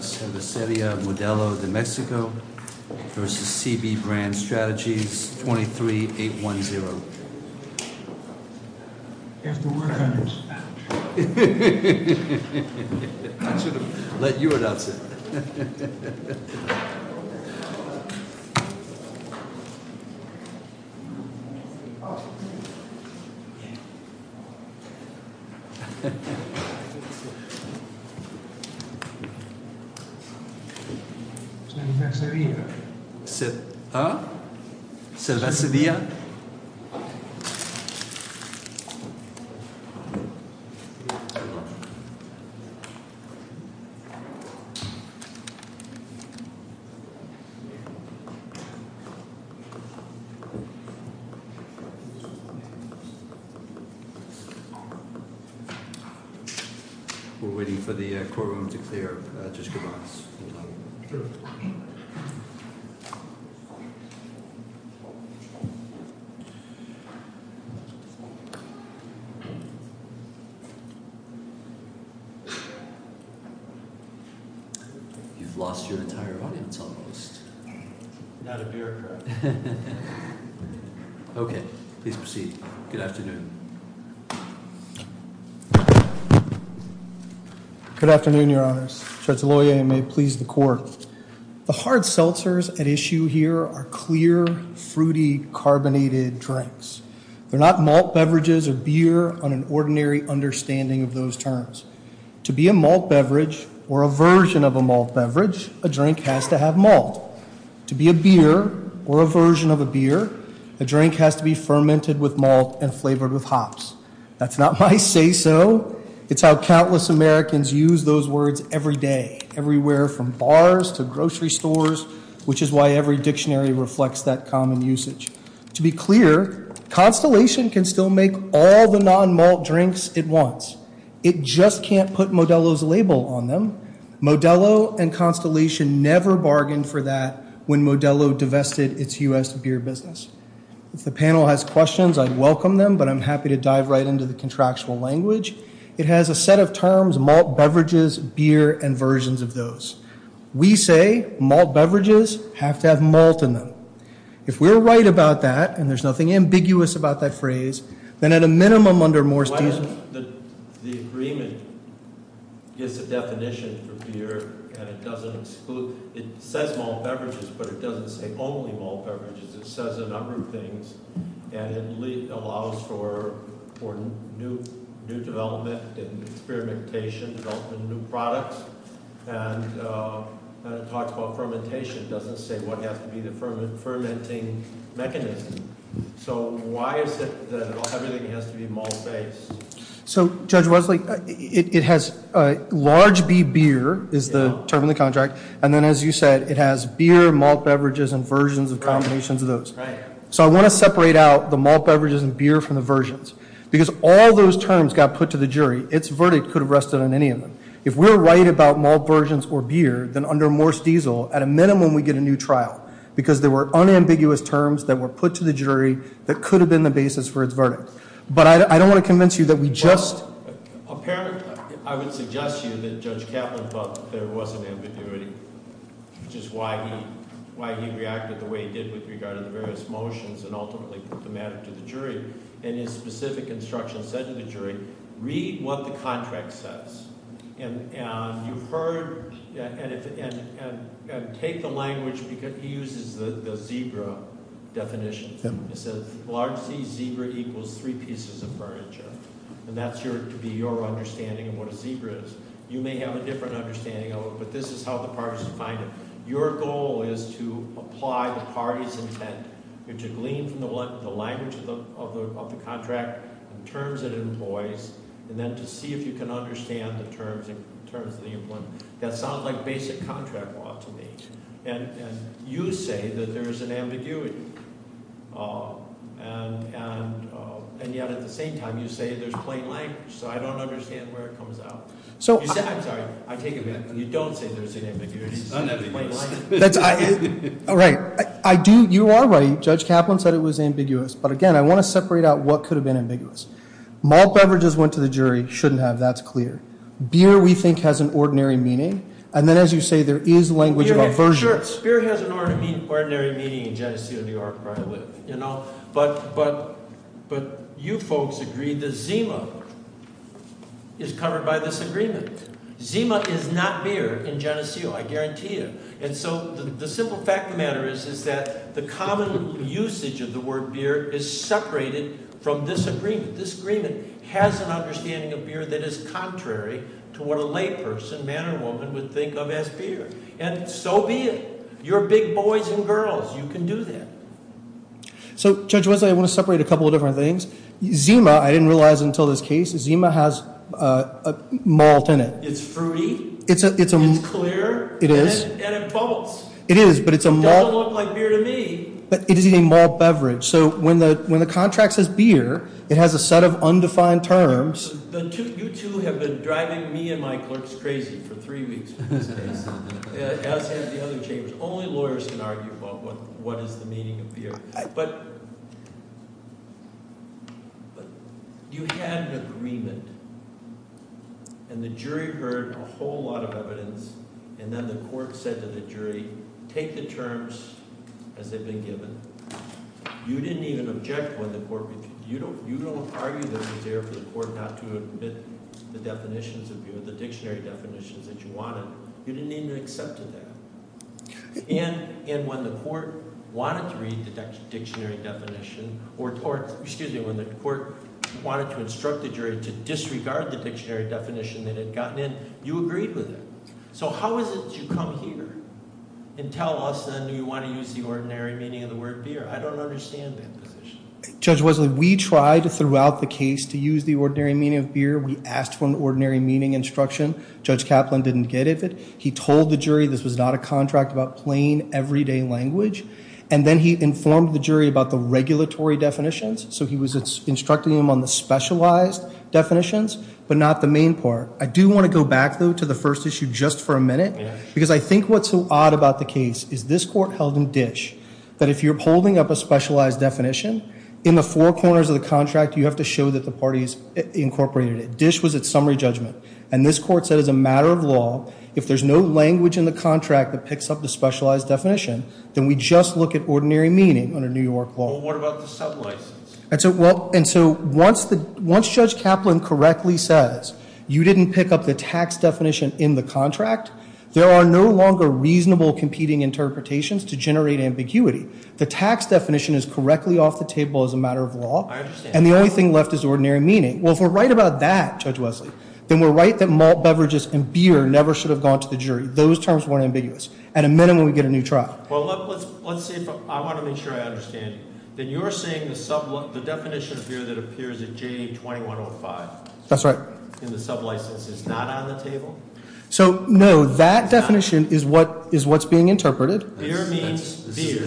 San Ysidro, Modelo, New Mexico versus CB Brand Strategies, 23-810. San Ysidro, Modelo, New Mexico versus CB Brand Strategies, 23-810. You've lost your entire audience, almost. Not a bureaucrat. Okay, please proceed. Good afternoon. Good afternoon, Your Honors. The hard seltzers at issue here are clear, fruity, carbonated drinks. They're not malt beverages or beer on an ordinary understanding of those terms. To be a malt beverage or a version of a malt beverage, a drink has to have malt. To be a beer or a version of a beer, a drink has to be fermented with malt and flavored with hops. That's not my say so. It's how countless Americans use those words every day, everywhere from bars to grocery stores, which is why every dictionary reflects that common usage. To be clear, Constellation can still make all the non-malt drinks it wants. It just can't put Modelo's label on them. Modelo and Constellation never bargained for that when Modelo divested its U.S. beer business. If the panel has questions, I'd welcome them, but I'm happy to dive right into the contractual language. It has a set of terms, malt beverages, beer, and versions of those. We say malt beverages have to have malt in them. If we're right about that, and there's nothing ambiguous about that phrase, then at a minimum under Moore's decision. The agreement gives a definition for beer, and it doesn't exclude. It says malt beverages, but it doesn't say only malt beverages. It says a number of things, and it allows for new development and experimentation, development of new products. And it talks about fermentation. It doesn't say what has to be the fermenting mechanism. So why is it that everything has to be malt-based? So, Judge Wesley, it has large B, beer, is the term in the contract. And then as you said, it has beer, malt beverages, and versions of combinations of those. So I want to separate out the malt beverages and beer from the versions. Because all those terms got put to the jury. Its verdict could have rested on any of them. If we're right about malt versions or beer, then under Moore's diesel, at a minimum we get a new trial. Because there were unambiguous terms that were put to the jury that could have been the basis for its verdict. But I don't want to convince you that we just- Well, apparently I would suggest to you that Judge Kaplan thought there was an ambiguity, which is why he reacted the way he did with regard to the various motions and ultimately put the matter to the jury. And his specific instruction said to the jury, read what the contract says. And you've heard – and take the language because he uses the zebra definition. It says, large C, zebra equals three pieces of furniture. And that's to be your understanding of what a zebra is. You may have a different understanding of it, but this is how the parties define it. Your goal is to apply the party's intent. You're to glean from the language of the contract, the terms it employs, and then to see if you can understand the terms of the employment. That sounds like basic contract law to me. And you say that there is an ambiguity. And yet at the same time, you say there's plain language. So I don't understand where it comes out. I'm sorry. I take it back. You don't say there's an ambiguity. It's just plain language. All right. You are right. Judge Kaplan said it was ambiguous. But again, I want to separate out what could have been ambiguous. Malt beverages went to the jury. Shouldn't have. That's clear. Beer, we think, has an ordinary meaning. And then as you say, there is language of aversion. Sure. Beer has an ordinary meaning in Geneseo, New York, where I live. But you folks agree that Zima is covered by this agreement. Zima is not beer in Geneseo. I guarantee you. And so the simple fact of the matter is that the common usage of the word beer is separated from this agreement. This agreement has an understanding of beer that is contrary to what a layperson, man or woman, would think of as beer. And so be it. You're big boys and girls. You can do that. So, Judge Wesley, I want to separate a couple of different things. Zima, I didn't realize until this case, Zima has malt in it. It's fruity. It's clear. It is. And it bubbles. It is, but it's a malt. It doesn't look like beer to me. But it is a malt beverage. So when the contract says beer, it has a set of undefined terms. You two have been driving me and my clerks crazy for three weeks with this case, as have the other chambers. Only lawyers can argue about what is the meaning of beer. But you had an agreement, and the jury heard a whole lot of evidence, and then the court said to the jury, take the terms as they've been given. You didn't even object when the court – you don't argue that it was fair for the court not to admit the definitions of beer, the dictionary definitions that you wanted. You didn't even accept that. And when the court wanted to read the dictionary definition or – excuse me, when the court wanted to instruct the jury to disregard the dictionary definition that had gotten in, you agreed with it. So how is it that you come here and tell us, then, do you want to use the ordinary meaning of the word beer? I don't understand that position. Judge Wesley, we tried throughout the case to use the ordinary meaning of beer. We asked for an ordinary meaning instruction. Judge Kaplan didn't get it. He told the jury this was not a contract about plain, everyday language, and then he informed the jury about the regulatory definitions. So he was instructing them on the specialized definitions, but not the main part. I do want to go back, though, to the first issue just for a minute, because I think what's so odd about the case is this court held in Dish that if you're holding up a specialized definition, in the four corners of the contract, you have to show that the parties incorporated it. Dish was at summary judgment. And this court said as a matter of law, if there's no language in the contract that picks up the specialized definition, then we just look at ordinary meaning under New York law. Well, what about the sub license? And so once Judge Kaplan correctly says you didn't pick up the tax definition in the contract, there are no longer reasonable competing interpretations to generate ambiguity. The tax definition is correctly off the table as a matter of law. I understand. And the only thing left is ordinary meaning. Well, if we're right about that, Judge Wesley, then we're right that malt beverages and beer never should have gone to the jury. Those terms weren't ambiguous. At a minimum, we'd get a new trial. Well, let's see if I want to make sure I understand. Then you're saying the definition of beer that appears in J2105 in the sub license is not on the table? So, no, that definition is what's being interpreted. Beer means beer,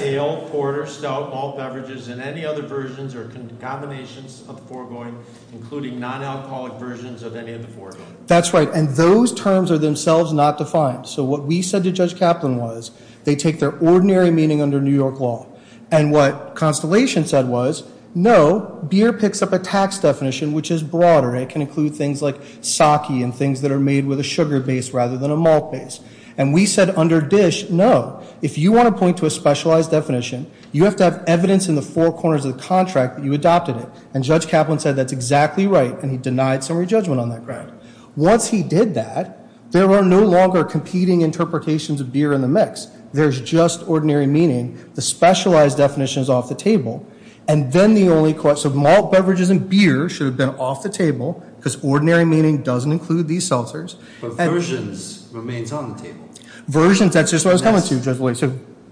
ale, porter, stout, malt beverages, and any other versions or combinations of the foregoing, including non-alcoholic versions of any of the foregoing. That's right, and those terms are themselves not defined. So what we said to Judge Kaplan was, they take their ordinary meaning under New York law. And what Constellation said was, no, beer picks up a tax definition which is broader. It can include things like sake and things that are made with a sugar base rather than a malt base. And we said under DISH, no, if you want to point to a specialized definition, you have to have evidence in the four corners of the contract that you adopted it. And Judge Kaplan said that's exactly right, and he denied summary judgment on that ground. Once he did that, there were no longer competing interpretations of beer in the mix. There's just ordinary meaning. The specialized definition is off the table. And then the only question of malt beverages and beer should have been off the table because ordinary meaning doesn't include these seltzers. But versions remains on the table. Versions, that's just what I was coming to. That's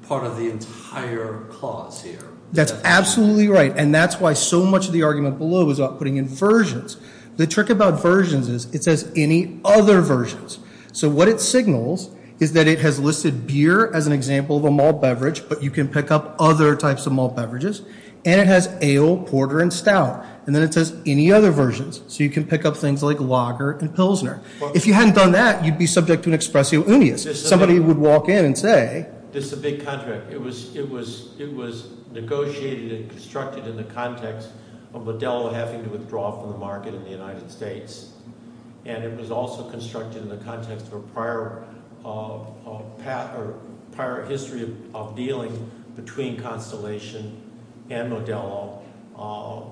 part of the entire clause here. That's absolutely right, and that's why so much of the argument below is putting in versions. The trick about versions is it says any other versions. So what it signals is that it has listed beer as an example of a malt beverage, but you can pick up other types of malt beverages. And it has ale, porter, and stout. And then it says any other versions. So you can pick up things like lager and pilsner. If you hadn't done that, you'd be subject to an expressio unius. Somebody would walk in and say- This is a big contract. It was negotiated and constructed in the context of Modelo having to withdraw from the market in the United States, and it was also constructed in the context of a prior history of dealing between Constellation and Modelo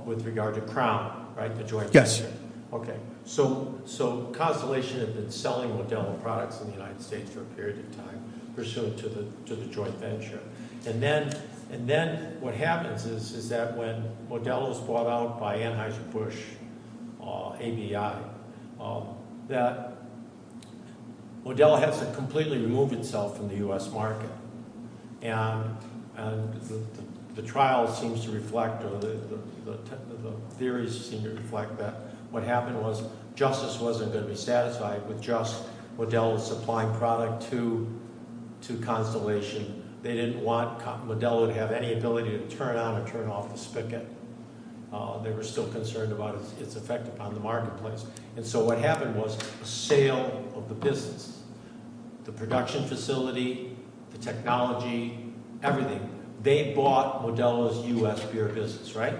with regard to Crown, right, the joint venture? Yes. Okay. So Constellation had been selling Modelo products in the United States for a period of time, pursuant to the joint venture. And then what happens is that when Modelo is bought out by Anheuser-Busch, ABI, that Modelo has to completely remove itself from the U.S. market. And the trial seems to reflect or the theories seem to reflect that. What happened was justice wasn't going to be satisfied with just Modelo supplying product to Constellation. They didn't want – Modelo would have any ability to turn on or turn off the spigot. They were still concerned about its effect upon the marketplace. And so what happened was a sale of the business. The production facility, the technology, everything. They bought Modelo's U.S. beer business, right?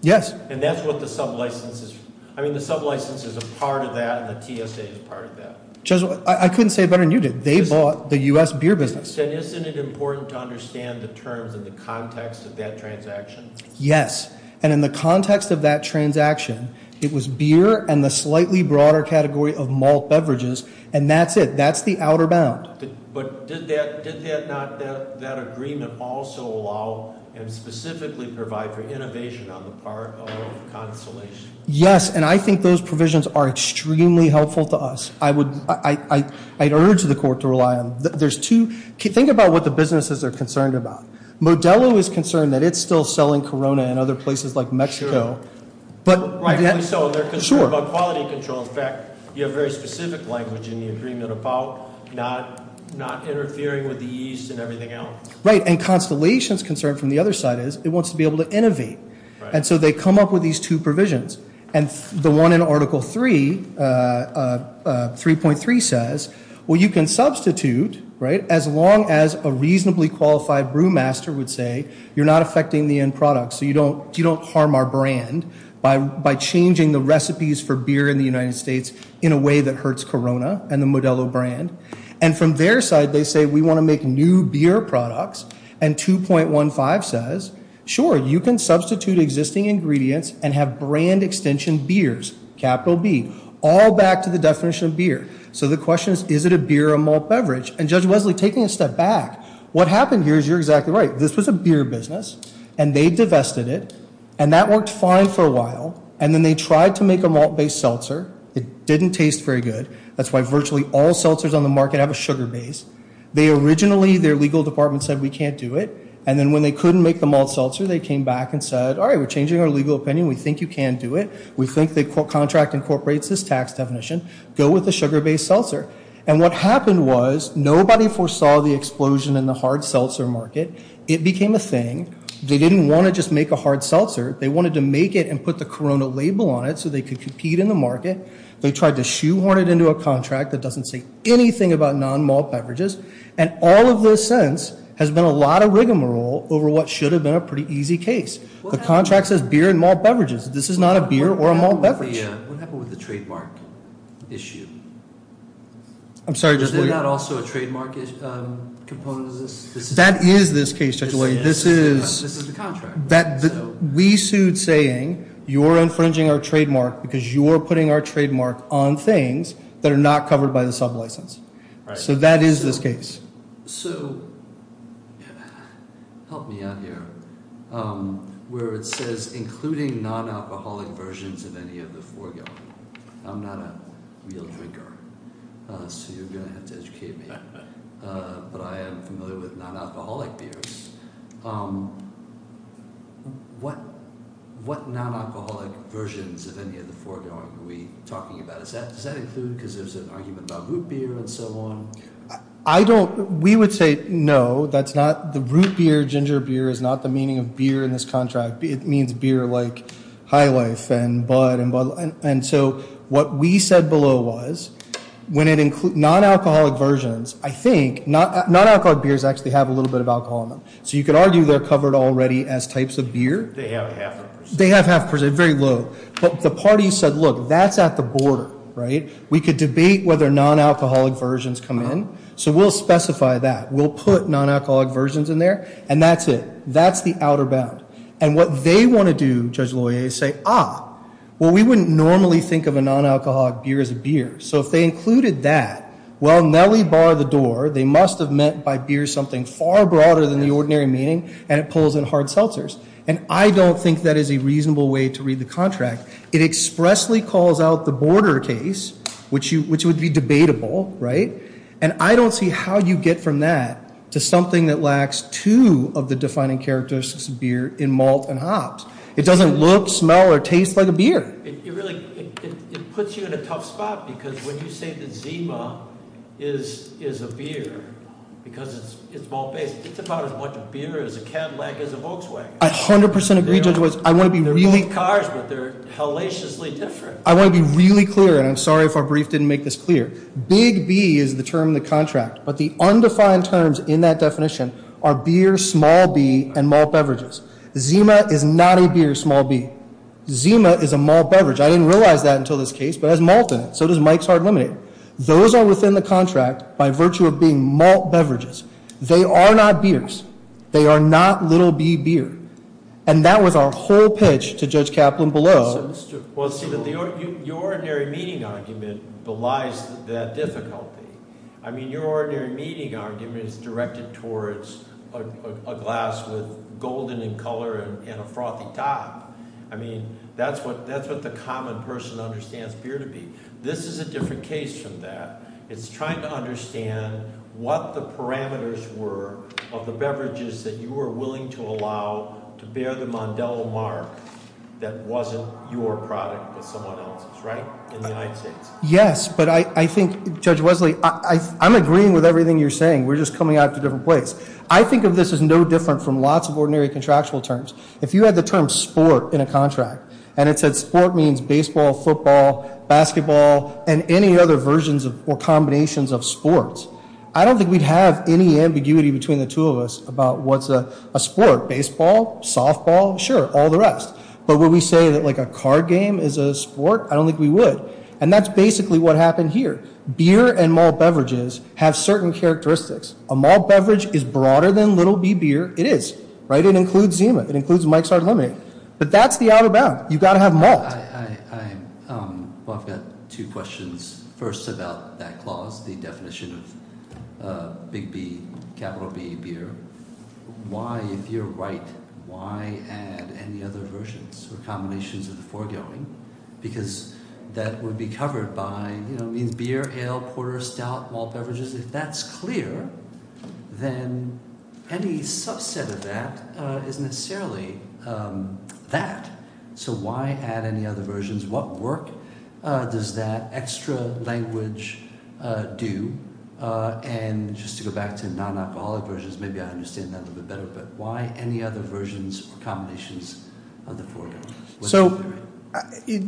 Yes. And that's what the sublicense is – I mean the sublicense is a part of that and the TSA is a part of that. Judge, I couldn't say it better than you did. They bought the U.S. beer business. Isn't it important to understand the terms and the context of that transaction? Yes. And in the context of that transaction, it was beer and the slightly broader category of malt beverages, and that's it. That's the outer bound. But did that – did that not – that agreement also allow and specifically provide for innovation on the part of Constellation? Yes, and I think those provisions are extremely helpful to us. I would – I'd urge the court to rely on – there's two – think about what the businesses are concerned about. Modelo is concerned that it's still selling Corona in other places like Mexico. Sure. But – Right, and so they're concerned about quality control. Sure. So, in fact, you have very specific language in the agreement about not interfering with the yeast and everything else. Right, and Constellation's concern from the other side is it wants to be able to innovate. And so they come up with these two provisions. And the one in Article 3, 3.3, says, well, you can substitute, right, as long as a reasonably qualified brewmaster would say you're not affecting the end product, so you don't harm our brand by changing the recipes for beer in the United States in a way that hurts Corona and the Modelo brand. And from their side, they say we want to make new beer products. And 2.15 says, sure, you can substitute existing ingredients and have brand extension beers, capital B, all back to the definition of beer. So the question is, is it a beer or a malt beverage? And, Judge Wesley, taking a step back, what happened here is you're exactly right. This was a beer business. And they divested it. And that worked fine for a while. And then they tried to make a malt-based seltzer. It didn't taste very good. That's why virtually all seltzers on the market have a sugar base. They originally, their legal department said, we can't do it. And then when they couldn't make the malt seltzer, they came back and said, all right, we're changing our legal opinion. We think you can do it. We think the contract incorporates this tax definition. Go with the sugar-based seltzer. And what happened was nobody foresaw the explosion in the hard seltzer market. It became a thing. They didn't want to just make a hard seltzer. They wanted to make it and put the Corona label on it so they could compete in the market. They tried to shoehorn it into a contract that doesn't say anything about non-malt beverages. And all of this sense has been a lot of rigmarole over what should have been a pretty easy case. The contract says beer and malt beverages. This is not a beer or a malt beverage. What happened with the trademark issue? I'm sorry. Was that also a trademark component of this? That is this case, Judge Lloyd. This is the contract. We sued saying you're infringing our trademark because you're putting our trademark on things that are not covered by the sublicense. So that is this case. So help me out here. Where it says including non-alcoholic versions of any of the foregoing. I'm not a real drinker, so you're going to have to educate me. But I am familiar with non-alcoholic beers. What non-alcoholic versions of any of the foregoing are we talking about? Does that include because there's an argument about root beer and so on? We would say no. The root beer, ginger beer, is not the meaning of beer in this contract. It means beer like High Life and Bud. And so what we said below was when it includes non-alcoholic versions, I think non-alcoholic beers actually have a little bit of alcohol in them. So you could argue they're covered already as types of beer. They have half percent. They have half percent, very low. But the parties said, look, that's at the border. We could debate whether non-alcoholic versions come in. So we'll specify that. We'll put non-alcoholic versions in there. And that's it. That's the outer bound. And what they want to do, Judge Loyer, is say, ah, well, we wouldn't normally think of a non-alcoholic beer as a beer. So if they included that, well, Nelly bar the door. They must have meant by beer something far broader than the ordinary meaning. And it pulls in hard seltzers. And I don't think that is a reasonable way to read the contract. It expressly calls out the border case, which would be debatable. And I don't see how you get from that to something that lacks two of the defining characteristics of beer in malt and hops. It doesn't look, smell, or taste like a beer. It puts you in a tough spot. Because when you say that Zima is a beer because it's malt-based, it's about as much a beer as a Cadillac is a Volkswagen. I 100% agree, Judge Weiss. They're really cars, but they're hellaciously different. I want to be really clear, and I'm sorry if our brief didn't make this clear. Big B is the term in the contract. But the undefined terms in that definition are beer, small B, and malt beverages. Zima is not a beer, small B. Zima is a malt beverage. I didn't realize that until this case. But it has malt in it. So does Mike's Hard Lemonade. Those are within the contract by virtue of being malt beverages. They are not beers. They are not little B beer. And that was our whole pitch to Judge Kaplan below. Well, see, your ordinary meeting argument belies that difficulty. I mean, your ordinary meeting argument is directed towards a glass with golden in color and a frothy top. I mean, that's what the common person understands beer to be. This is a different case from that. It's trying to understand what the parameters were of the beverages that you were willing to allow to bear the Mondello mark that wasn't your product with someone else's, right, in the United States. Yes, but I think, Judge Wesley, I'm agreeing with everything you're saying. We're just coming at it a different place. I think of this as no different from lots of ordinary contractual terms. If you had the term sport in a contract and it said sport means baseball, football, basketball, and any other versions or combinations of sports, I don't think we'd have any ambiguity between the two of us about what's a sport, baseball, softball, sure, all the rest. But would we say that, like, a card game is a sport? I don't think we would. And that's basically what happened here. Beer and malt beverages have certain characteristics. A malt beverage is broader than little B beer. It is, right? It includes Zima. It includes Mike's Hard Lemonade. But that's the outer bound. You've got to have malt. Well, I've got two questions. First about that clause, the definition of Big B, capital B beer. Why, if you're right, why add any other versions or combinations of the foregoing? Because that would be covered by, you know, it means beer, ale, porter, stout, malt beverages. If that's clear, then any subset of that isn't necessarily that. So why add any other versions? What work does that extra language do? And just to go back to non-alcoholic versions, maybe I understand that a little bit better, but why any other versions or combinations of the foregoing? So,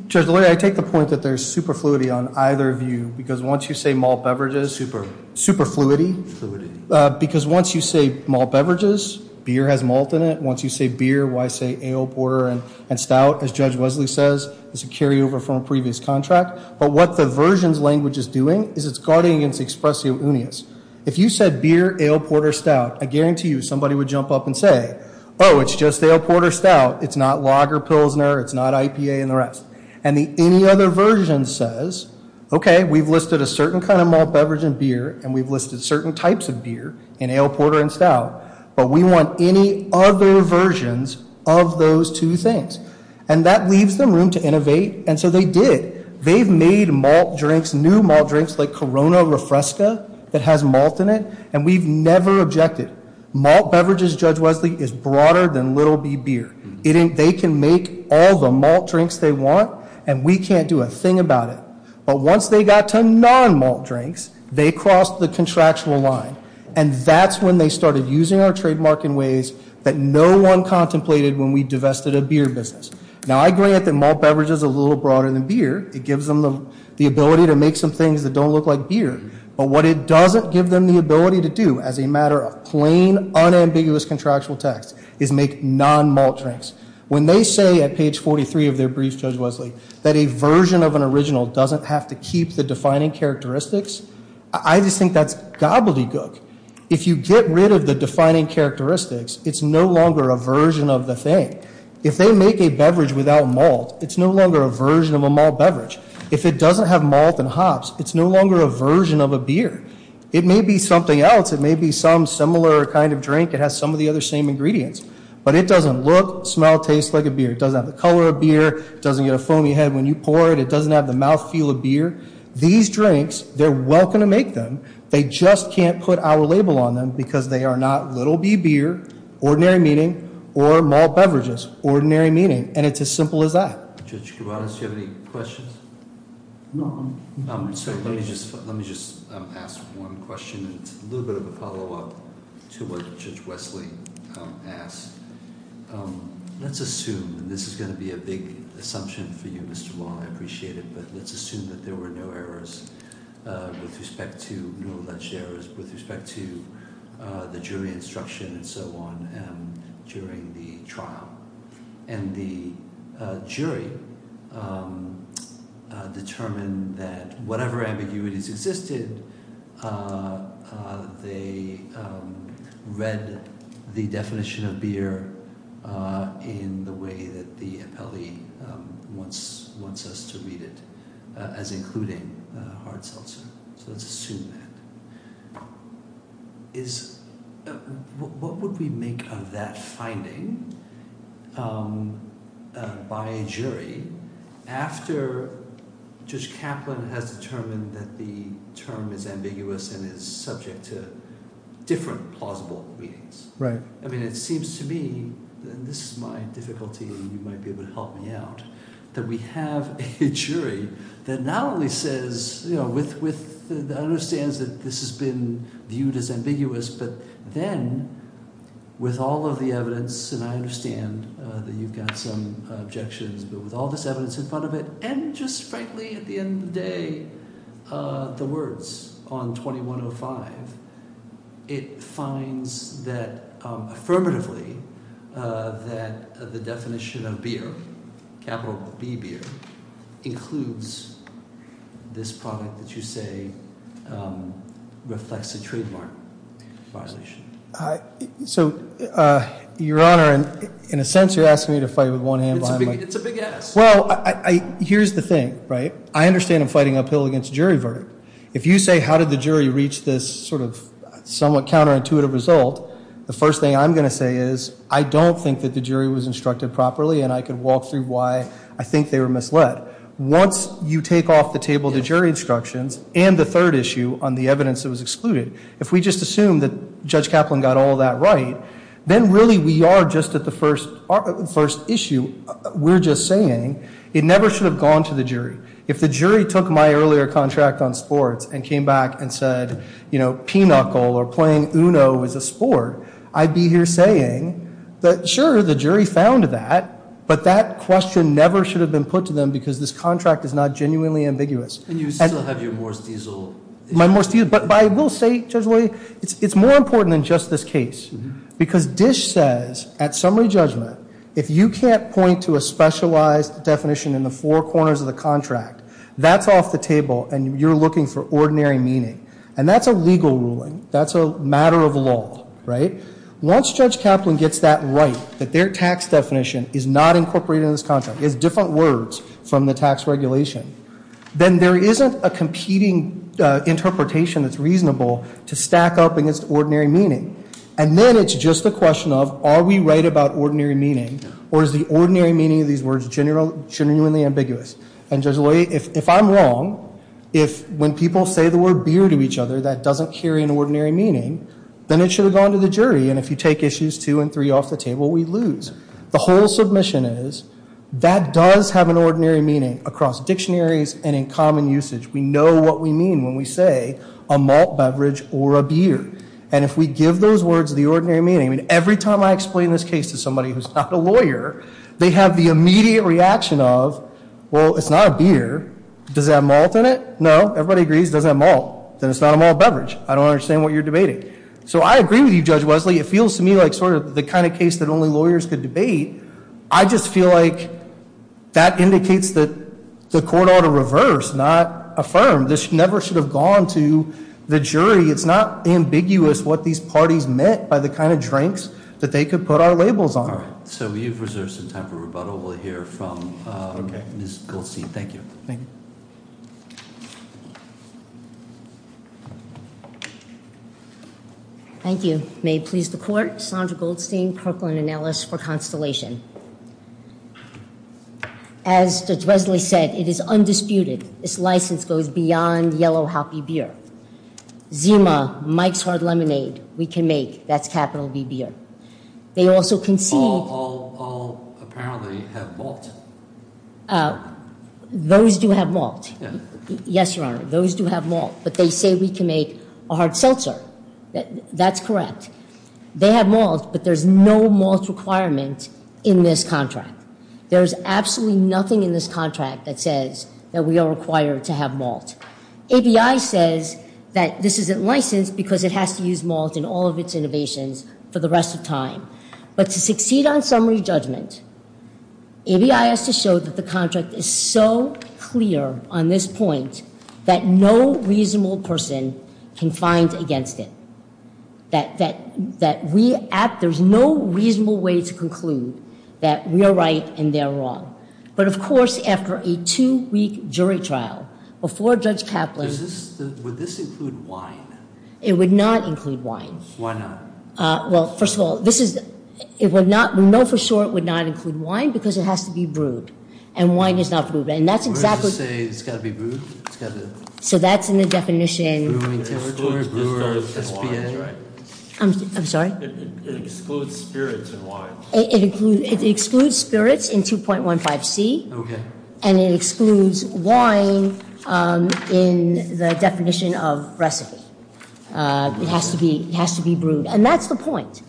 Judge O'Leary, I take the point that there's superfluity on either view, because once you say malt beverages, superfluity, because once you say malt beverages, beer has malt in it. Once you say beer, why say ale, porter, and stout? As Judge Wesley says, it's a carryover from a previous contract. But what the versions language is doing is it's guarding against expressio unius. If you said beer, ale, porter, stout, I guarantee you somebody would jump up and say, oh, it's just ale, porter, stout. It's not lager, pilsner. It's not IPA and the rest. And the any other version says, okay, we've listed a certain kind of malt beverage in beer, and we've listed certain types of beer in ale, porter, and stout, but we want any other versions of those two things. And that leaves them room to innovate, and so they did. They've made malt drinks, new malt drinks, like Corona Refresca that has malt in it, and we've never objected. Malt beverages, Judge Wesley, is broader than little B beer. They can make all the malt drinks they want, and we can't do a thing about it. But once they got to non-malt drinks, they crossed the contractual line, and that's when they started using our trademark in ways that no one contemplated when we divested a beer business. Now, I grant that malt beverage is a little broader than beer. It gives them the ability to make some things that don't look like beer. But what it doesn't give them the ability to do as a matter of plain, unambiguous contractual text is make non-malt drinks. When they say at page 43 of their brief, Judge Wesley, that a version of an original doesn't have to keep the defining characteristics, I just think that's gobbledygook. If you get rid of the defining characteristics, it's no longer a version of the thing. If they make a beverage without malt, it's no longer a version of a malt beverage. If it doesn't have malt and hops, it's no longer a version of a beer. It may be something else. It may be some similar kind of drink. It has some of the other same ingredients. But it doesn't look, smell, taste like a beer. It doesn't have the color of beer. It doesn't get a foamy head when you pour it. It doesn't have the mouthfeel of beer. These drinks, they're welcome to make them. They just can't put our label on them because they are not little B beer, ordinary meaning, or malt beverages, ordinary meaning, and it's as simple as that. Judge Kubanis, do you have any questions? No. Let me just ask one question. It's a little bit of a follow-up to what Judge Wesley asked. Let's assume, and this is going to be a big assumption for you, Mr. Wong, I appreciate it, but let's assume that there were no alleged errors with respect to the jury instruction and so on during the trial. And the jury determined that whatever ambiguities existed, they read the definition of beer in the way that the appellee wants us to read it as including hard seltzer. So let's assume that. What would we make of that finding by a jury after Judge Kaplan has determined that the term is ambiguous and is subject to different plausible readings? Right. I mean, it seems to me, and this is my difficulty and you might be able to help me out, that we have a jury that not only says, you know, understands that this has been viewed as ambiguous, but then with all of the evidence, and I understand that you've got some objections, but with all this evidence in front of it and just, frankly, at the end of the day, the words on 2105, it finds that affirmatively that the definition of beer, capital B beer, includes this product that you say reflects a trademark violation. So, Your Honor, in a sense you're asking me to fight with one hand behind my back. It's a big ask. Well, here's the thing, right? I understand I'm fighting uphill against jury verdict. If you say how did the jury reach this sort of somewhat counterintuitive result, the first thing I'm going to say is I don't think that the jury was instructed properly and I could walk through why I think they were misled. Once you take off the table the jury instructions and the third issue on the evidence that was excluded, if we just assume that Judge Kaplan got all that right, then really we are just at the first issue. We're just saying it never should have gone to the jury. If the jury took my earlier contract on sports and came back and said, you know, pinochle or playing uno is a sport, I'd be here saying that, sure, the jury found that, but that question never should have been put to them because this contract is not genuinely ambiguous. And you still have your Morse diesel issue. My Morse diesel. But I will say, Judge Lowy, it's more important than just this case because Dish says at summary judgment if you can't point to a specialized definition in the four corners of the contract, that's off the table and you're looking for ordinary meaning. And that's a legal ruling. That's a matter of law, right? Once Judge Kaplan gets that right, that their tax definition is not incorporated in this contract, it's different words from the tax regulation, then there isn't a competing interpretation that's reasonable to stack up against ordinary meaning. And then it's just a question of are we right about ordinary meaning or is the ordinary meaning of these words genuinely ambiguous? And, Judge Lowy, if I'm wrong, if when people say the word beer to each other, that doesn't carry an ordinary meaning, then it should have gone to the jury. And if you take issues two and three off the table, we lose. The whole submission is that does have an ordinary meaning across dictionaries and in common usage. We know what we mean when we say a malt beverage or a beer. And if we give those words the ordinary meaning, every time I explain this case to somebody who's not a lawyer, they have the immediate reaction of, well, it's not a beer. Does it have malt in it? No. Everybody agrees it doesn't have malt. Then it's not a malt beverage. I don't understand what you're debating. So I agree with you, Judge Wesley. It feels to me like sort of the kind of case that only lawyers could debate. I just feel like that indicates that the court ought to reverse, not affirm. This never should have gone to the jury. It's not ambiguous what these parties meant by the kind of drinks that they could put our labels on. All right. So we have reserved some time for rebuttal. We'll hear from Ms. Goldstein. Thank you. Thank you. Thank you. May it please the court. Sandra Goldstein, Kirkland & Ellis for Constellation. As Judge Wesley said, it is undisputed. This license goes beyond yellow healthy beer. Zima, Mike's Hard Lemonade, we can make. That's capital V beer. They also concede. All apparently have malt. Those do have malt. Yes, Your Honor. Those do have malt. But they say we can make a hard seltzer. That's correct. They have malt, but there's no malt requirement in this contract. There's absolutely nothing in this contract that says that we are required to have malt. ABI says that this isn't licensed because it has to use malt in all of its innovations for the rest of time. But to succeed on summary judgment, ABI has to show that the contract is so clear on this point that no reasonable person can find against it. There's no reasonable way to conclude that we are right and they are wrong. But, of course, after a two-week jury trial before Judge Kaplan Would this include wine? It would not include wine. Why not? Well, first of all, we know for sure it would not include wine because it has to be brewed. And wine is not brewed. We're just saying it's got to be brewed? So that's in the definition. It excludes spirits in wine. It excludes spirits in 2.15c and it excludes wine in the definition of recipe. It has to be brewed. And that's the point.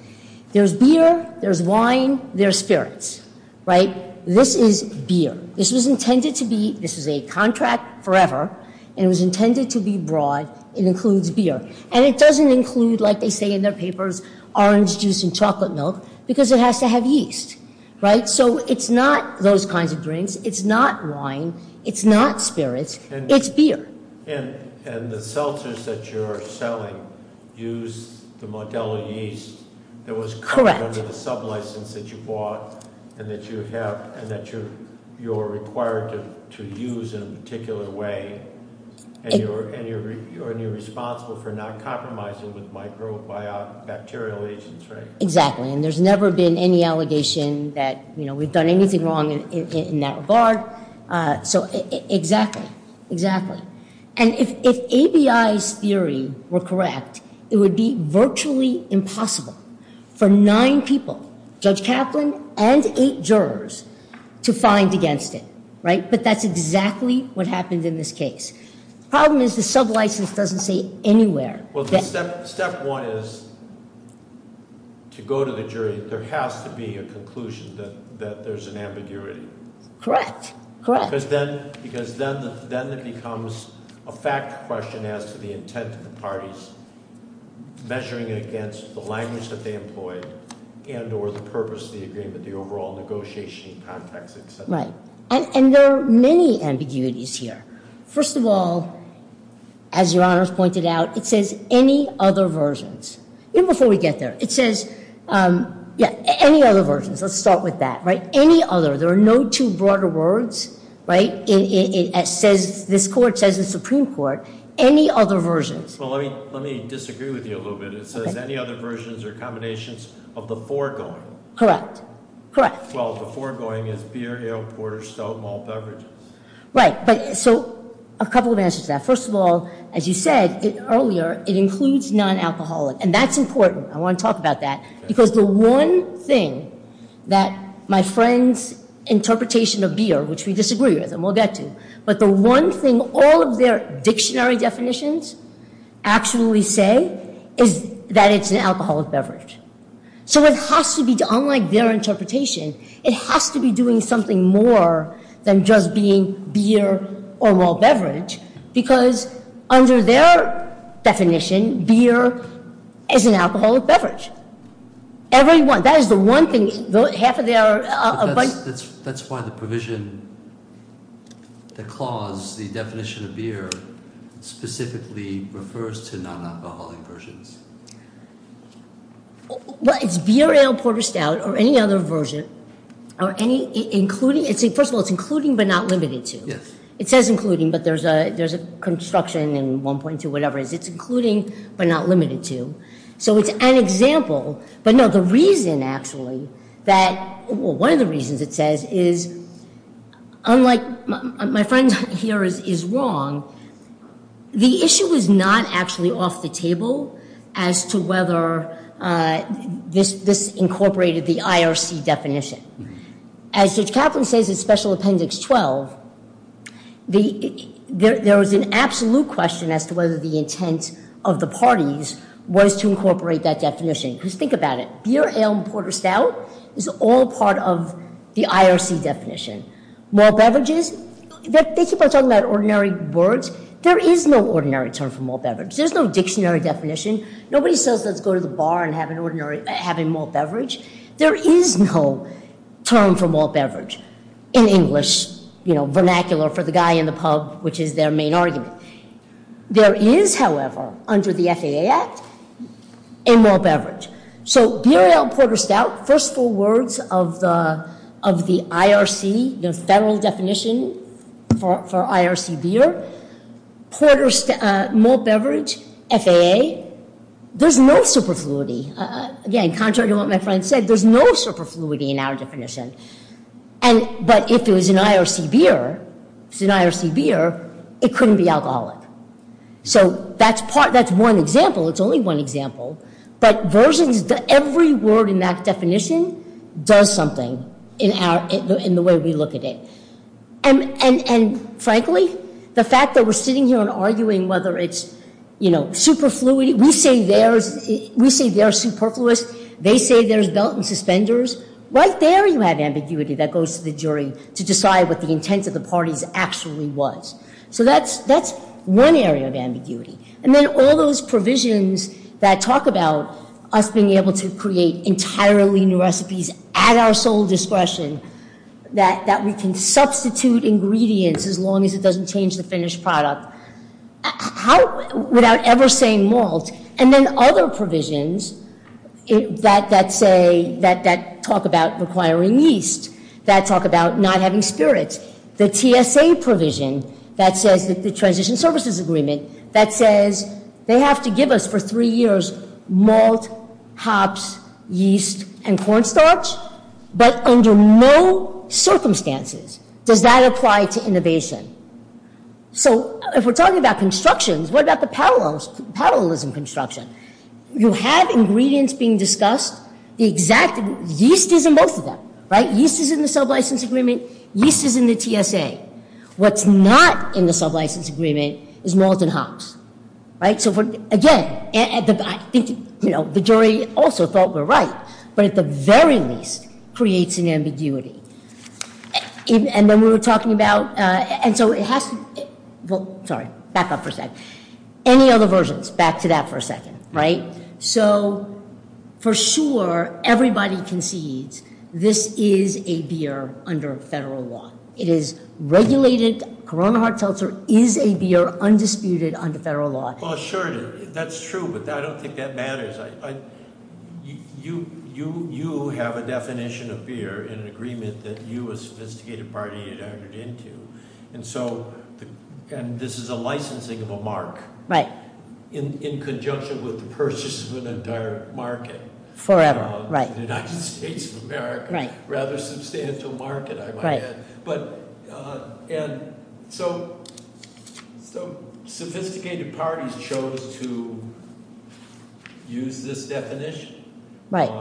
There's beer, there's wine, there's spirits. Right? This is beer. This was intended to be, this is a contract forever, and it was intended to be broad. It includes beer. And it doesn't include, like they say in their papers, orange juice and chocolate milk because it has to have yeast. Right? So it's not those kinds of drinks. It's not wine. It's not spirits. It's beer. And the seltzers that you're selling use the Modelo yeast that was covered under the sublicense that you bought and that you have and that you're required to use in a particular way. And you're responsible for not compromising with microbacterial agents, right? Exactly. And there's never been any allegation that we've done anything wrong in that regard. So exactly. Exactly. And if ABI's theory were correct, it would be virtually impossible for nine people, Judge Kaplan and eight jurors, to find against it, right? But that's exactly what happened in this case. The problem is the sublicense doesn't say anywhere. Well, step one is to go to the jury, there has to be a conclusion that there's an ambiguity. Correct. Correct. Because then it becomes a fact question as to the intent of the parties measuring it against the language that they employed and or the purpose of the agreement, the overall negotiation context, et cetera. Right. And there are many ambiguities here. First of all, as Your Honors pointed out, it says, any other versions. Even before we get there, it says, yeah, any other versions. Let's start with that, right? Any other. There are no two broader words, right? It says, this court says the Supreme Court, any other versions. Well, let me disagree with you a little bit. It says, any other versions or combinations of the foregoing. Correct. Correct. Well, the foregoing is beer, ale, porter, stout, malt beverages. Right. So a couple of answers to that. First of all, as you said earlier, it includes non-alcoholic. And that's important. I want to talk about that. Because the one thing that my friend's interpretation of beer, which we disagree with and we'll get to, but the one thing all of their dictionary definitions actually say is that it's an alcoholic beverage. So it has to be, unlike their interpretation, it has to be doing something more than just being beer or malt beverage. Because under their definition, beer is an alcoholic beverage. Every one. That is the one thing. That's why the provision, the clause, the definition of beer specifically refers to non-alcoholic versions. Well, it's beer, ale, porter, stout, or any other version, or any, including, first of all, it's including but not limited to. Yes. It says including, but there's a construction in 1.2, whatever it is. It's including but not limited to. So it's an example. But, no, the reason, actually, that, well, one of the reasons it says is, unlike, my friend here is wrong, the issue is not actually off the table as to whether this incorporated the IRC definition. As Judge Kaplan says in Special Appendix 12, there was an absolute question as to whether the intent of the parties was to incorporate that definition. Because think about it. Beer, ale, porter, stout is all part of the IRC definition. Malt beverages, they keep on talking about ordinary words. There is no ordinary term for malt beverage. There's no dictionary definition. Nobody says let's go to the bar and have a malt beverage. There is no term for malt beverage in English, you know, vernacular for the guy in the pub, which is their main argument. There is, however, under the FAA Act, a malt beverage. So beer, ale, porter, stout, first four words of the IRC, the federal definition for IRC beer, malt beverage, FAA, there's no superfluity. Again, contrary to what my friend said, there's no superfluity in our definition. But if it was an IRC beer, it couldn't be alcoholic. So that's one example. It's only one example. But versions, every word in that definition does something in the way we look at it. And frankly, the fact that we're sitting here and arguing whether it's superfluity. We say they're superfluous. They say there's belt and suspenders. Right there you have ambiguity that goes to the jury to decide what the intent of the parties actually was. So that's one area of ambiguity. And then all those provisions that talk about us being able to create entirely new recipes at our sole discretion, that we can substitute ingredients as long as it doesn't change the finished product, without ever saying malt. And then other provisions that talk about requiring yeast, that talk about not having spirits. The TSA provision that says the transition services agreement, that says they have to give us for three years malt, hops, yeast, and cornstarch. But under no circumstances does that apply to innovation. So if we're talking about constructions, what about the parallelism construction? You have ingredients being discussed. Yeast is in both of them. Yeast is in the sublicense agreement. Yeast is in the TSA. What's not in the sublicense agreement is malt and hops. So again, I think the jury also thought we're right. But at the very least, creates an ambiguity. And then we were talking about, and so it has to, well, sorry, back up for a second. Any other versions? Back to that for a second, right? So for sure, everybody concedes this is a beer under federal law. It is regulated. Corona hot seltzer is a beer, undisputed, under federal law. Well, sure, that's true. But I don't think that matters. You have a definition of beer in an agreement that you, a sophisticated party, had entered into. And so this is a licensing of a mark in conjunction with the purchase of an entire market. Forever, right. The United States of America. Right. So sophisticated parties chose to use this definition. Right.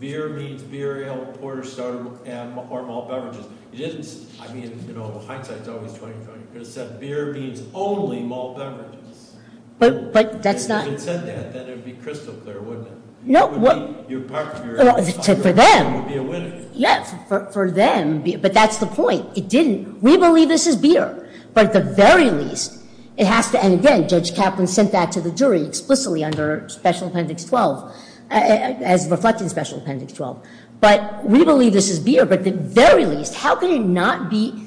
Beer means beer, ale, porter, stout, or malt beverages. It isn't, I mean, you know, hindsight is always 20-20. You could have said beer means only malt beverages. But that's not. If you had said that, then it would be crystal clear, wouldn't it? No. It would be, your party would be a winner. For them. Yes, for them. But that's the point. It didn't. We believe this is beer. But at the very least, it has to, and again, Judge Kaplan sent that to the jury explicitly under Special Appendix 12, as reflected in Special Appendix 12. But we believe this is beer. But at the very least, how can it not be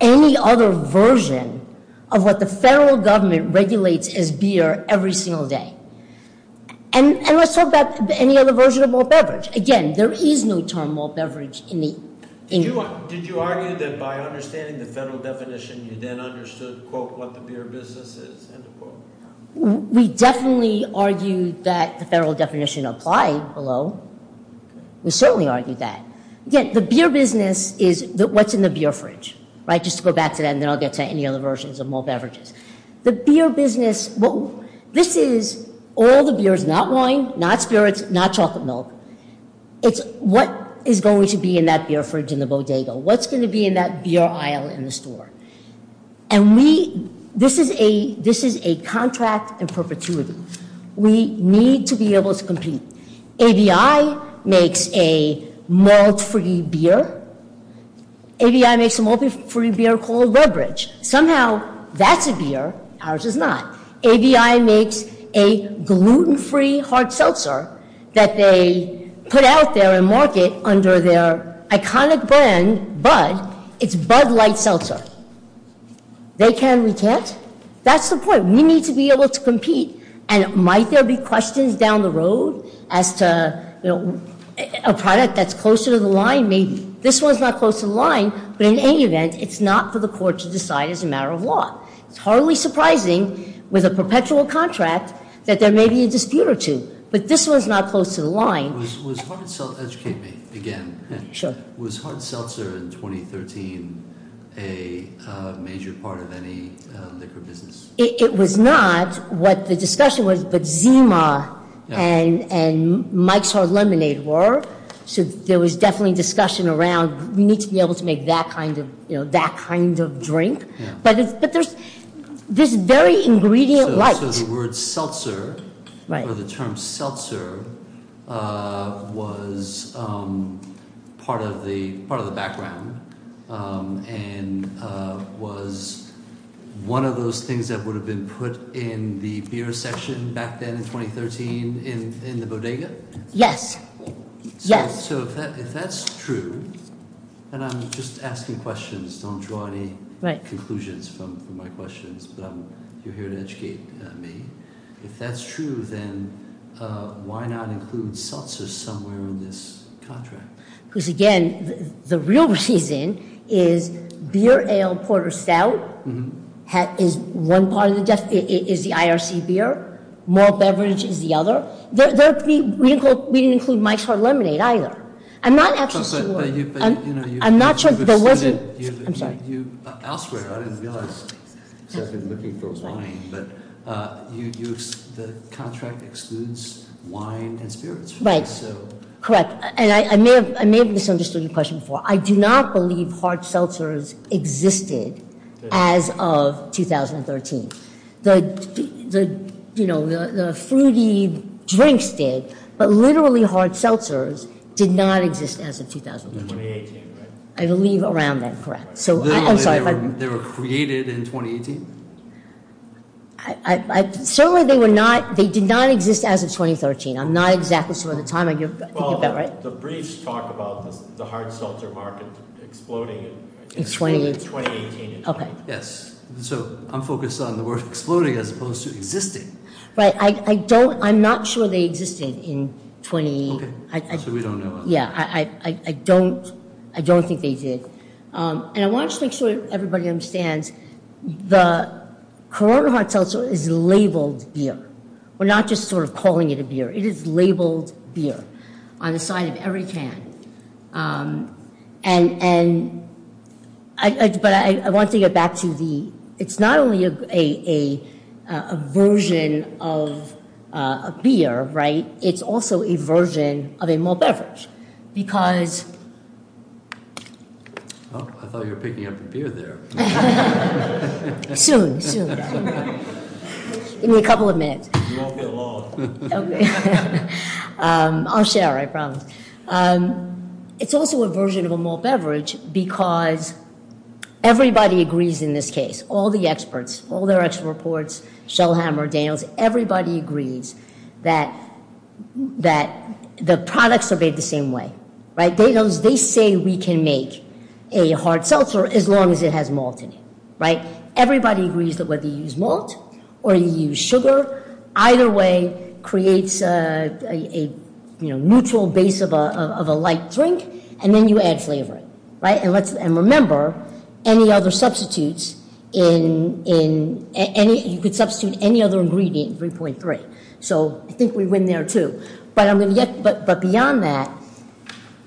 any other version of what the federal government regulates as beer every single day? And let's talk about any other version of malt beverage. Again, there is no term malt beverage in the. Did you argue that by understanding the federal definition, you then understood, quote, what the beer business is, end of quote? We definitely argued that the federal definition applied below. We certainly argued that. Again, the beer business is what's in the beer fridge, right? Just to go back to that, and then I'll get to any other versions of malt beverages. The beer business, this is all the beers, not wine, not spirits, not chocolate milk. It's what is going to be in that beer fridge in the bodega? What's going to be in that beer aisle in the store? And we, this is a contract in perpetuity. We need to be able to compete. ABI makes a malt-free beer. ABI makes a malt-free beer called Redbridge. Somehow, that's a beer. Ours is not. ABI makes a gluten-free hard seltzer that they put out there and market under their iconic brand, Bud. It's Bud Light Seltzer. They can. We can't. That's the point. We need to be able to compete. And might there be questions down the road as to a product that's closer to the line? Maybe. This one's not close to the line, but in any event, it's not for the court to decide as a matter of law. It's hardly surprising with a perpetual contract that there may be a dispute or two. But this one's not close to the line. Educate me again. Sure. Was hard seltzer in 2013 a major part of any liquor business? It was not what the discussion was, but Zima and Mike's Hard Lemonade were. So there was definitely discussion around we need to be able to make that kind of drink. But there's this very ingredient light. So the word seltzer or the term seltzer was part of the background and was one of those things that would have been put in the beer section back then in 2013 in the bodega? Yes. Yes. So if that's true, and I'm just asking questions. Don't draw any conclusions from my questions, but you're here to educate me. If that's true, then why not include seltzer somewhere in this contract? Because, again, the real reason is beer, ale, porter, stout is one part of the definition. It is the IRC beer. More beverage is the other. We didn't include Mike's Hard Lemonade either. I'm not absolutely sure. I'm not sure there wasn't. I'm sorry. Elsewhere, I didn't realize, because I've been looking for wine, but the contract excludes wine and spirits. Right. Correct. And I may have misunderstood your question before. I do not believe hard seltzers existed as of 2013. The fruity drinks did, but literally hard seltzers did not exist as of 2013. 2018, right? I believe around that, correct. I'm sorry. They were created in 2018? Certainly they were not. They did not exist as of 2013. I'm not exactly sure of the timing. Well, the briefs talk about the hard seltzer market exploding in 2018. Okay. Yes. So I'm focused on the word exploding as opposed to existing. Right. I'm not sure they existed in 2018. Okay. So we don't know. Yeah. I don't think they did. And I want to just make sure everybody understands the Corona hard seltzer is labeled beer. We're not just sort of calling it a beer. It is labeled beer on the side of every can. And, but I want to get back to the, it's not only a version of a beer, right? It's also a version of a malt beverage. Because. Oh, I thought you were picking up a beer there. Soon, soon. Give me a couple of minutes. You won't be alone. Okay. I'll share, I promise. It's also a version of a malt beverage because everybody agrees in this case. All the experts, all their expert reports, Shellhammer, Daniels, everybody agrees that the products are made the same way. Right. They say we can make a hard seltzer as long as it has malt in it. Right. Everybody agrees that whether you use malt or you use sugar, either way creates a mutual base of a light drink. And then you add flavor. Right. And remember, any other substitutes, you could substitute any other ingredient in 3.3. So I think we win there, too. But beyond that,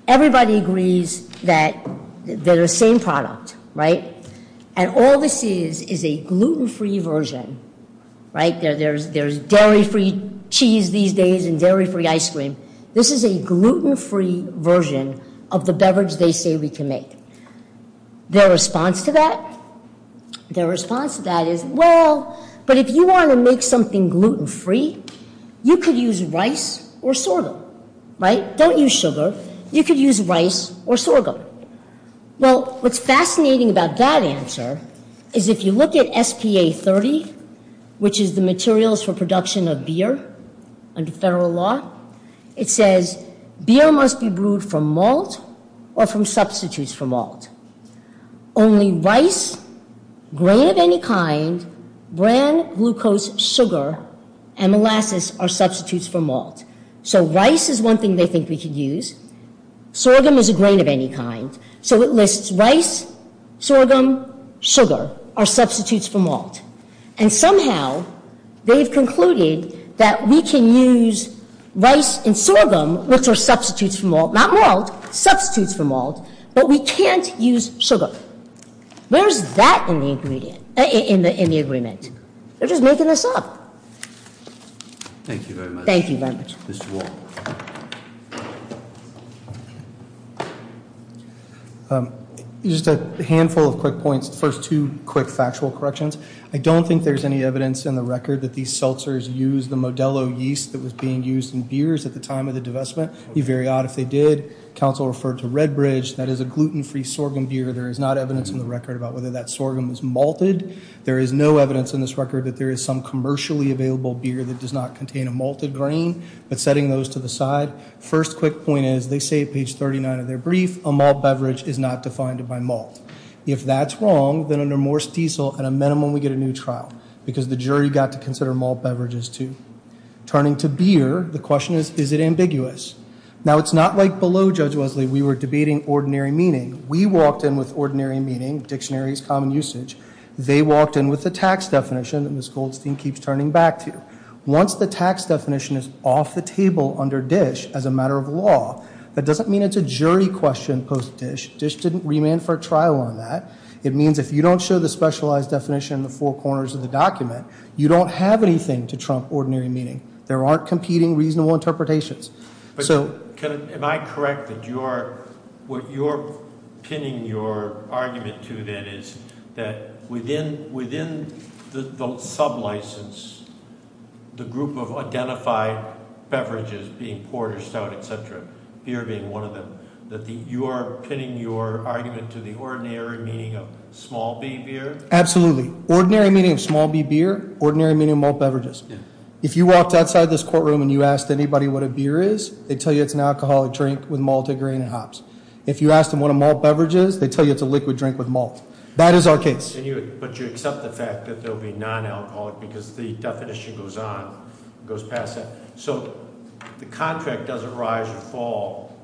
everybody agrees that they're the same product. Right. And all this is is a gluten-free version. Right. There's dairy-free cheese these days and dairy-free ice cream. This is a gluten-free version of the beverage they say we can make. Their response to that? Their response to that is, well, but if you want to make something gluten-free, you could use rice or sorghum. Right. Don't use sugar. You could use rice or sorghum. Well, what's fascinating about that answer is if you look at SPA-30, which is the materials for production of beer under federal law, it says beer must be brewed from malt or from substitutes for malt. Only rice, grain of any kind, bran, glucose, sugar, and molasses are substitutes for malt. So rice is one thing they think we could use. Sorghum is a grain of any kind. So it lists rice, sorghum, sugar are substitutes for malt. And somehow they've concluded that we can use rice and sorghum, which are substitutes for malt, not malt, substitutes for malt, but we can't use sugar. Where is that in the agreement? They're just making this up. Thank you very much. Thank you very much. This is Walt. Just a handful of quick points. First, two quick factual corrections. I don't think there's any evidence in the record that these seltzers used the Modelo yeast that was being used in beers at the time of the divestment. It would be very odd if they did. Council referred to Redbridge. That is a gluten-free sorghum beer. There is not evidence in the record about whether that sorghum is malted. There is no evidence in this record that there is some commercially available beer that does not contain a malted grain, but setting those to the side. First quick point is they say at page 39 of their brief, a malt beverage is not defined by malt. If that's wrong, then under Morse Diesel, at a minimum, we get a new trial, because the jury got to consider malt beverages too. Turning to beer, the question is, is it ambiguous? Now, it's not like below, Judge Wesley, we were debating ordinary meaning. We walked in with ordinary meaning, dictionaries, common usage. They walked in with the tax definition that Ms. Goldstein keeps turning back to. Once the tax definition is off the table under Dish as a matter of law, that doesn't mean it's a jury question post-Dish. Dish didn't remand for trial on that. It means if you don't show the specialized definition in the four corners of the document, you don't have anything to trump ordinary meaning. There aren't competing reasonable interpretations. So- Am I correct that what you're pinning your argument to, then, is that within the sub-license, the group of identified beverages being porter, stout, etc., beer being one of them, that you are pinning your argument to the ordinary meaning of small b beer? Absolutely. Ordinary meaning of small b beer, ordinary meaning of malt beverages. If you walked outside this courtroom and you asked anybody what a beer is, they'd tell you it's an alcoholic drink with malted grain and hops. If you asked them what a malt beverage is, they'd tell you it's a liquid drink with malt. That is our case. But you accept the fact that they'll be non-alcoholic because the definition goes on, goes past that. So the contract doesn't rise or fall.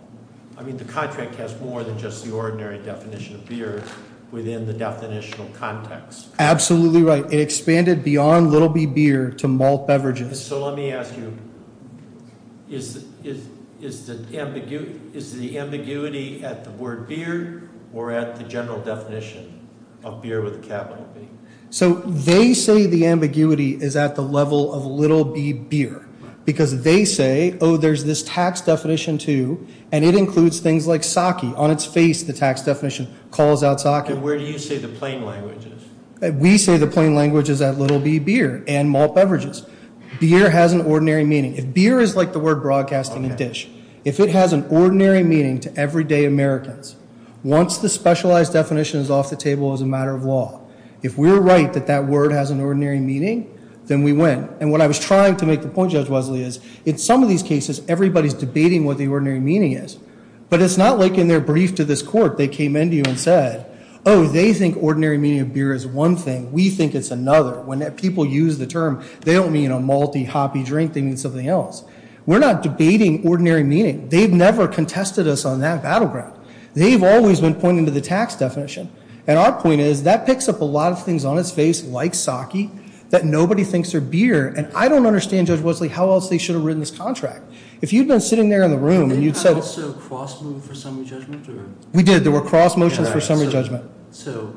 I mean, the contract has more than just the ordinary definition of beer within the definitional context. Absolutely right. It expanded beyond little b beer to malt beverages. So let me ask you, is the ambiguity at the word beer or at the general definition of beer with a capital B? So they say the ambiguity is at the level of little b beer because they say, oh, there's this tax definition, too, and it includes things like sake. On its face, the tax definition calls out sake. And where do you say the plain language is? We say the plain language is at little b beer and malt beverages. Beer has an ordinary meaning. If beer is like the word broadcasting a dish, if it has an ordinary meaning to everyday Americans, once the specialized definition is off the table as a matter of law, if we're right that that word has an ordinary meaning, then we win. And what I was trying to make the point, Judge Wesley, is in some of these cases, everybody's debating what the ordinary meaning is. But it's not like in their brief to this court they came into you and said, oh, they think ordinary meaning of beer is one thing. We think it's another. When people use the term, they don't mean a malty, hoppy drink. They mean something else. We're not debating ordinary meaning. They've never contested us on that battleground. They've always been pointing to the tax definition. And our point is that picks up a lot of things on its face, like sake, that nobody thinks are beer. And I don't understand, Judge Wesley, how else they should have written this contract. If you'd been sitting there in the room and you'd said – Did they also cross move for summary judgment? We did. There were cross motions for summary judgment. So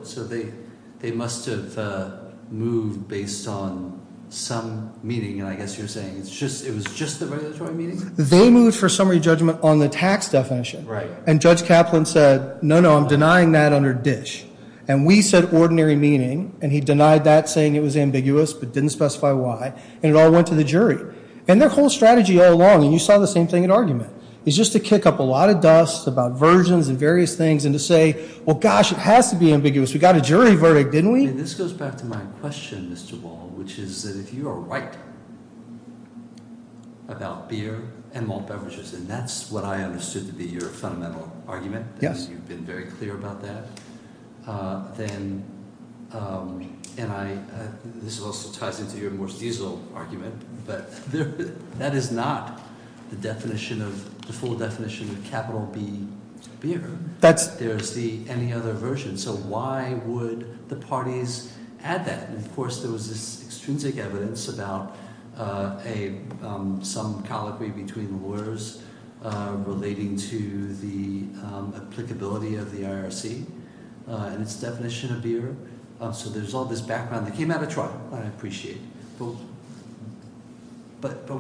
they must have moved based on some meaning. And I guess you're saying it was just the regulatory meaning? They moved for summary judgment on the tax definition. And Judge Kaplan said, no, no, I'm denying that under DISH. And we said ordinary meaning. And he denied that, saying it was ambiguous but didn't specify why. And it all went to the jury. And their whole strategy all along, and you saw the same thing in argument, is just to kick up a lot of dust about versions and various things and to say, well, gosh, it has to be ambiguous. We got a jury verdict, didn't we? And this goes back to my question, Mr. Wall, which is that if you are right about beer and malt beverages, and that's what I understood to be your fundamental argument, and you've been very clear about that, and this also ties into your Morse diesel argument, but that is not the full definition of capital B beer. There's the any other version. So why would the parties add that? And, of course, there was this extrinsic evidence about some colloquy between lawyers relating to the applicability of the IRC. And its definition of beer. So there's all this background that came out of trial that I appreciate. But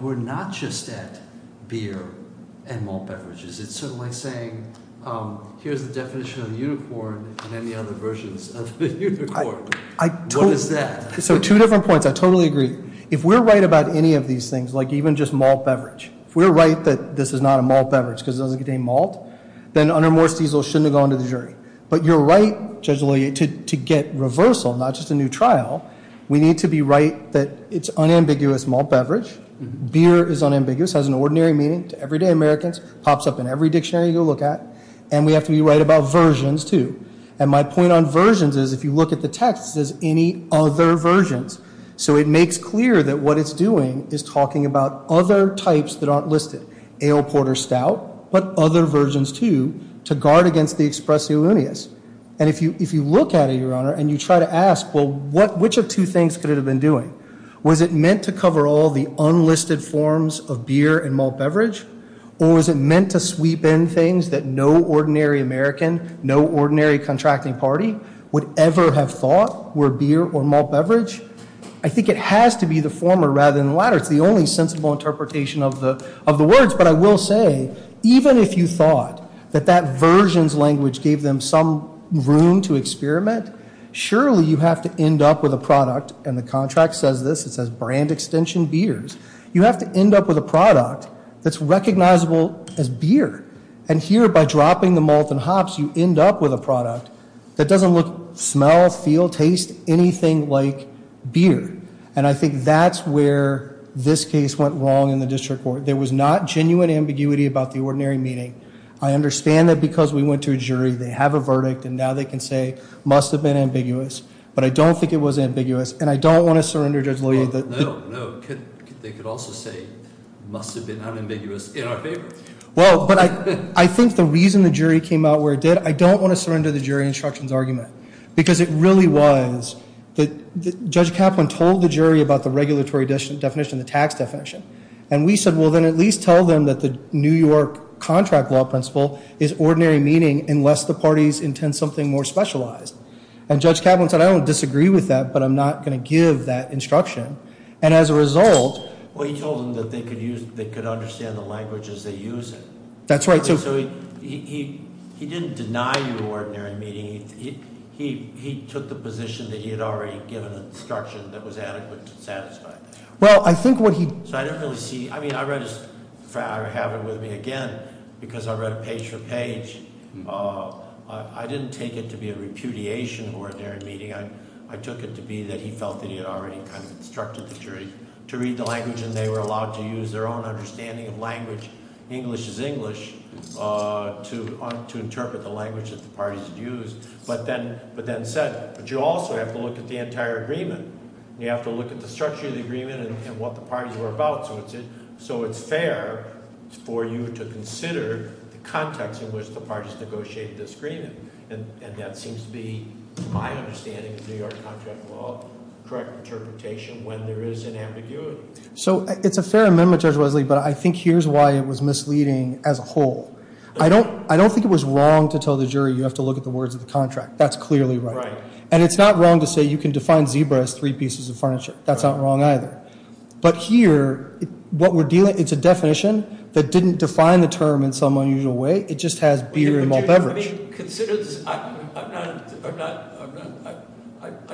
we're not just at beer and malt beverages. It's sort of like saying here's the definition of unicorn and any other versions of the unicorn. What is that? So two different points. I totally agree. If we're right about any of these things, like even just malt beverage, if we're right that this is not a malt beverage because it doesn't contain malt, then under Morse diesel shouldn't have gone to the jury. But you're right, Judge LaLea, to get reversal, not just a new trial. We need to be right that it's unambiguous malt beverage. Beer is unambiguous, has an ordinary meaning to everyday Americans, pops up in every dictionary you look at, and we have to be right about versions, too. And my point on versions is if you look at the text, it says any other versions. So it makes clear that what it's doing is talking about other types that aren't listed, ale port or stout, but other versions, too, to guard against the expressi lunis. And if you look at it, Your Honor, and you try to ask, well, which of two things could it have been doing? Was it meant to cover all the unlisted forms of beer and malt beverage? Or was it meant to sweep in things that no ordinary American, no ordinary contracting party would ever have thought were beer or malt beverage? I think it has to be the former rather than the latter. It's the only sensible interpretation of the words. But I will say, even if you thought that that versions language gave them some room to experiment, surely you have to end up with a product, and the contract says this, it says brand extension beers. You have to end up with a product that's recognizable as beer. And here, by dropping the malt and hops, you end up with a product that doesn't look, smell, feel, taste anything like beer. And I think that's where this case went wrong in the district court. There was not genuine ambiguity about the ordinary meeting. I understand that because we went to a jury, they have a verdict, and now they can say, must have been ambiguous. But I don't think it was ambiguous. And I don't want to surrender Judge Loehr. No, no. They could also say, must have been unambiguous in our favor. Well, but I think the reason the jury came out where it did, I don't want to surrender the jury instructions argument. Because it really was that Judge Kaplan told the jury about the regulatory definition, the tax definition. And we said, well, then at least tell them that the New York contract law principle is ordinary meeting unless the parties intend something more specialized. And Judge Kaplan said, I don't disagree with that, but I'm not going to give that instruction. And as a result- Well, he told them that they could understand the language as they use it. That's right. So he didn't deny the ordinary meeting. He took the position that he had already given an instruction that was adequate to satisfy. Well, I think what he- So I didn't really see, I mean, I read his, I have it with me again, because I read it page for page. I didn't take it to be a repudiation of ordinary meeting. I took it to be that he felt that he had already kind of instructed the jury to read the language and they were allowed to use their own understanding of language, English is English, to interpret the language that the parties had used. But then said, but you also have to look at the entire agreement. You have to look at the structure of the agreement and what the parties were about. So it's fair for you to consider the context in which the parties negotiated this agreement. And that seems to be, to my understanding of New York contract law, correct interpretation when there is an ambiguity. So it's a fair amendment, Judge Wesley, but I think here's why it was misleading as a whole. I don't think it was wrong to tell the jury you have to look at the words of the contract. That's clearly right. And it's not wrong to say you can define zebra as three pieces of furniture. That's not wrong either. But here, what we're dealing, it's a definition that didn't define the term in some unusual way. It just has beer and malt beverage. I mean, consider this, I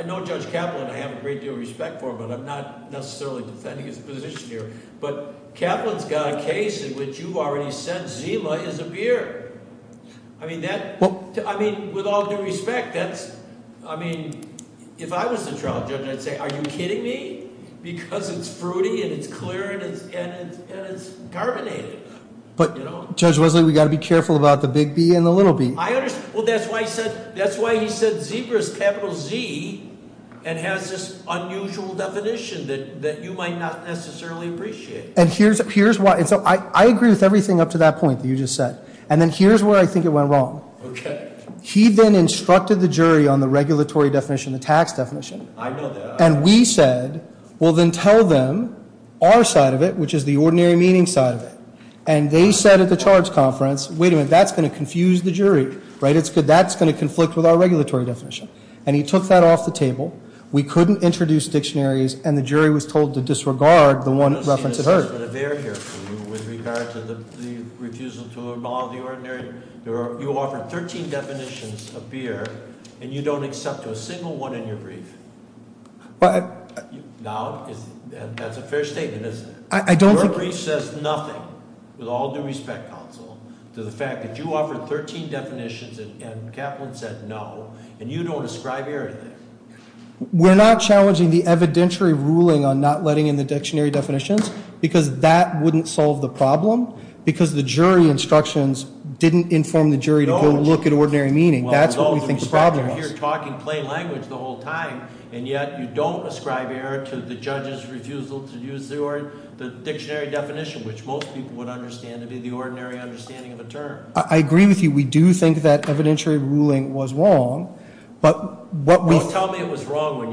know Judge Kaplan, I have a great deal of respect for him, but I'm not necessarily defending his position here. But Kaplan's got a case in which you've already said zebra is a beer. I mean, with all due respect, that's, I mean, if I was the trial judge, I'd say, are you kidding me? Because it's fruity and it's clear and it's carbonated. But, Judge Wesley, we've got to be careful about the big B and the little b. I understand. Well, that's why he said zebra is capital Z and has this unusual definition that you might not necessarily appreciate. And here's why. And so I agree with everything up to that point that you just said. And then here's where I think it went wrong. Okay. He then instructed the jury on the regulatory definition, the tax definition. I know that. And we said, well, then tell them our side of it, which is the ordinary meaning side of it. And they said at the charge conference, wait a minute, that's going to confuse the jury, right? That's going to conflict with our regulatory definition. And he took that off the table. We couldn't introduce dictionaries, and the jury was told to disregard the one reference it heard. With regard to the refusal to involve the ordinary, you offered 13 definitions of beer, and you don't accept a single one in your brief. Now, that's a fair statement, isn't it? I don't think- Your brief says nothing, with all due respect, counsel, to the fact that you offered 13 definitions and Kaplan said no, and you don't ascribe beer to that. We're not challenging the evidentiary ruling on not letting in the dictionary definitions, because that wouldn't solve the problem. Because the jury instructions didn't inform the jury to go look at ordinary meaning. That's what we think the problem was. With all due respect, you're here talking plain language the whole time, and yet you don't ascribe air to the judge's refusal to use the dictionary definition, which most people would understand to be the ordinary understanding of a term. I agree with you. We do think that evidentiary ruling was wrong. Don't tell me it was wrong when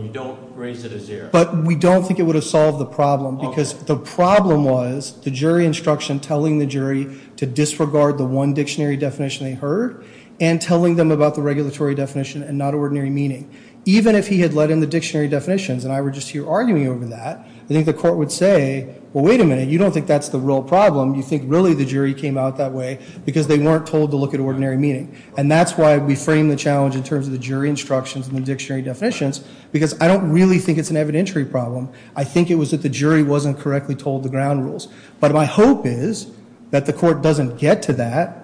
you don't raise it as air. But we don't think it would have solved the problem, because the problem was the jury instruction telling the jury to disregard the one dictionary definition they heard and telling them about the regulatory definition and not ordinary meaning. Even if he had let in the dictionary definitions and I were just here arguing over that, I think the court would say, well, wait a minute, you don't think that's the real problem. You think really the jury came out that way because they weren't told to look at ordinary meaning. And that's why we frame the challenge in terms of the jury instructions and the dictionary definitions, because I don't really think it's an evidentiary problem. I think it was that the jury wasn't correctly told the ground rules. But my hope is that the court doesn't get to that,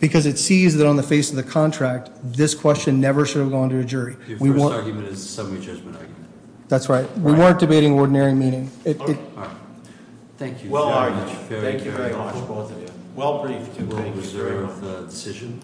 because it sees that on the face of the contract, this question never should have gone to a jury. Your first argument is a semi-judgment argument. That's right. We weren't debating ordinary meaning. Thank you very much, both of you. Well, brief, do we reserve the decision?